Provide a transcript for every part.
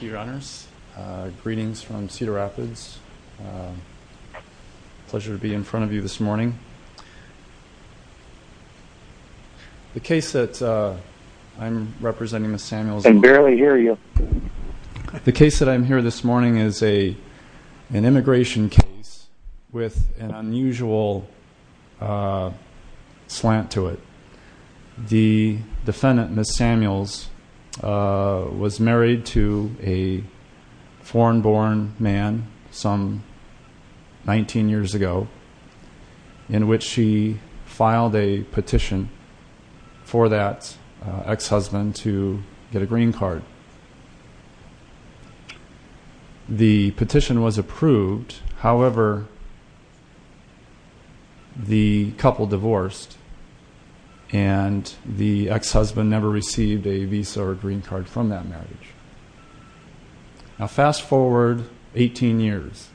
Greetings from Cedar Rapids. Pleasure to be in front of you this morning. The case that I'm representing Ms. Samuels- I can barely hear you. The case that I'm here this morning is an immigration case with an unusual slant to it. The defendant, Ms. Samuels, was married to a foreign-born man some 19 years ago, in which she filed a petition for that ex-husband to get a green card. The petition was approved, however, the couple divorced, and the ex-husband never received a visa or green card from that marriage. Now fast forward 18 years.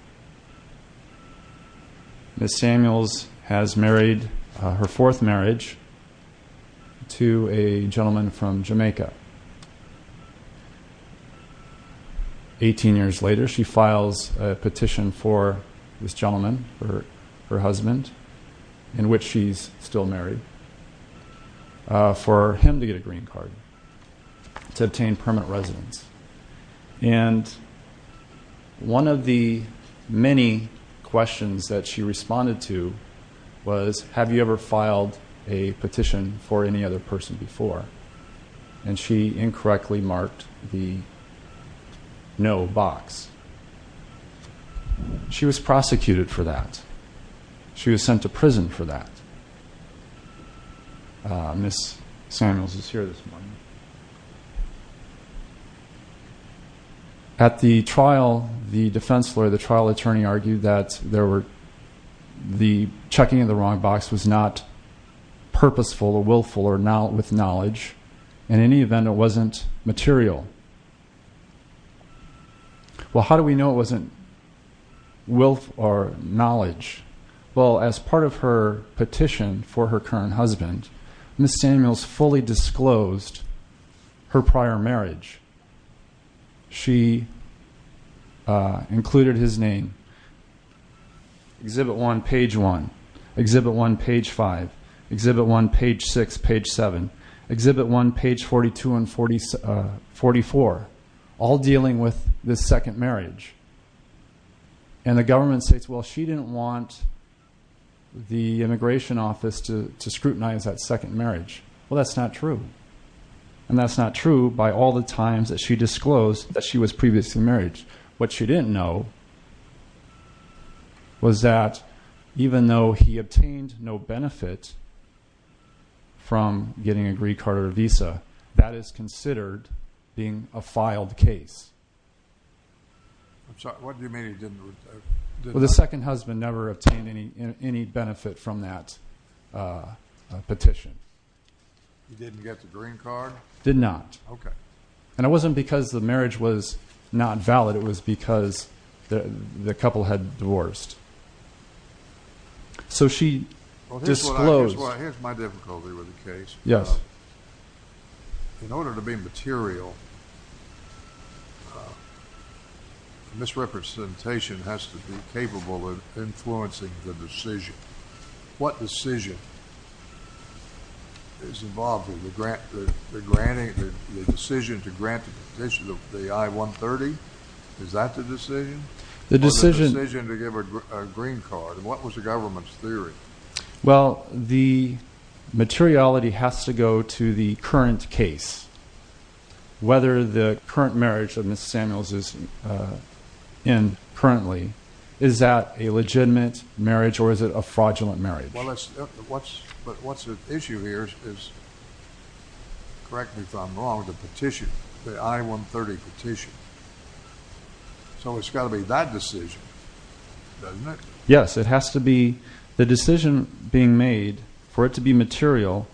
Ms. Samuels has married her fourth marriage to a gentleman from Jamaica. 18 years later, she files a petition for this gentleman, her husband, in which she's still married, for him to get a green card to obtain permanent residence. And one of the many questions that she responded to was, have you ever filed a petition for any other person before? And she incorrectly marked the no box. She was prosecuted for that. She was sent to prison for that. Ms. Samuels is here this morning. At the trial, the defense lawyer, the trial attorney, argued that the checking of the wrong box was not purposeful or willful or with knowledge. In any event, it wasn't material. Well, how do we know it wasn't willful or knowledge? Well, as part of her petition for her current husband, Ms. Samuels fully disclosed her prior marriage. She included his name, Exhibit 1, Page 1, Exhibit 1, Page 5, Exhibit 1, Page 6, Page 7, Exhibit 1, Page 42 and 44, all dealing with this second marriage. And the government states, well, she didn't want the immigration office to scrutinize that second marriage. Well, that's not true. And that's not true by all the times that she disclosed that she was previously married. What she didn't know was that even though he obtained no benefit from getting a green card or visa, that is considered being a filed case. What do you mean he didn't? Well, the second husband never obtained any benefit from that petition. He didn't get the green card? Did not. Okay. And it wasn't because the marriage was not valid. It was because the couple had divorced. So she disclosed. Well, here's my difficulty with the case. Yes. In order to be material, misrepresentation has to be capable of influencing the decision. What decision is involved in the decision to grant the petition of the I-130? Is that the decision? The decision to give a green card. And what was the government's theory? Well, the materiality has to go to the current case. Whether the current marriage that Ms. Samuels is in currently, is that a legitimate marriage or is it a fraudulent marriage? But what's at issue here is, correct me if I'm wrong, the petition, the I-130 petition. So it's got to be that decision, doesn't it? Yes, it has to be. The decision being made for it to be material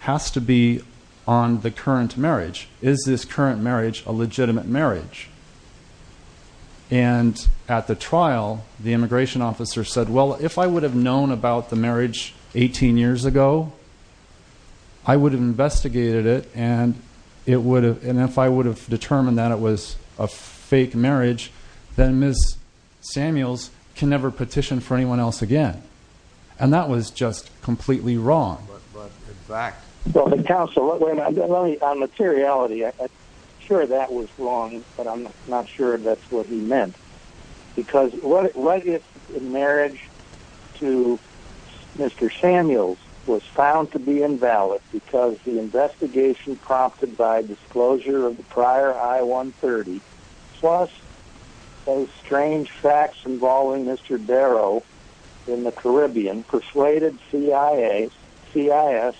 has to be on the current marriage. Is this current marriage a legitimate marriage? And at the trial, the immigration officer said, well, if I would have known about the marriage 18 years ago, I would have investigated it, and if I would have determined that it was a fake marriage, then Ms. Samuels can never petition for anyone else again. And that was just completely wrong. But in fact... Well, counsel, on materiality, I'm sure that was wrong, but I'm not sure that's what he meant. Because what if the marriage to Mr. Samuels was found to be invalid because the investigation prompted by disclosure of the prior I-130, plus some strange facts involving Mr. Darrow in the Caribbean, persuaded CIS that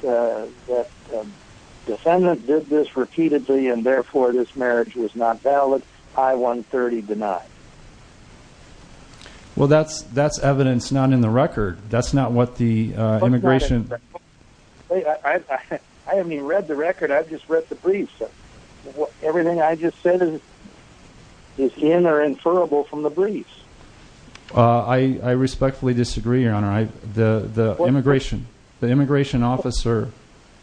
the defendant did this repeatedly and therefore this marriage was not valid, I-130 denied? Well, that's evidence not in the record. That's not what the immigration... I haven't even read the record. I've just read the briefs. Everything I just said is in or inferable from the briefs. I respectfully disagree, Your Honor. The immigration officer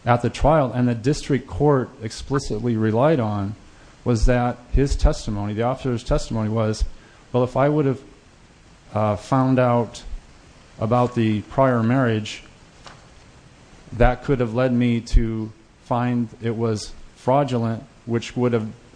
at the trial and the district court explicitly relied on was that his testimony, the officer's testimony was, well, if I would have found out about the prior marriage, that could have led me to find it was fraudulent, which would have...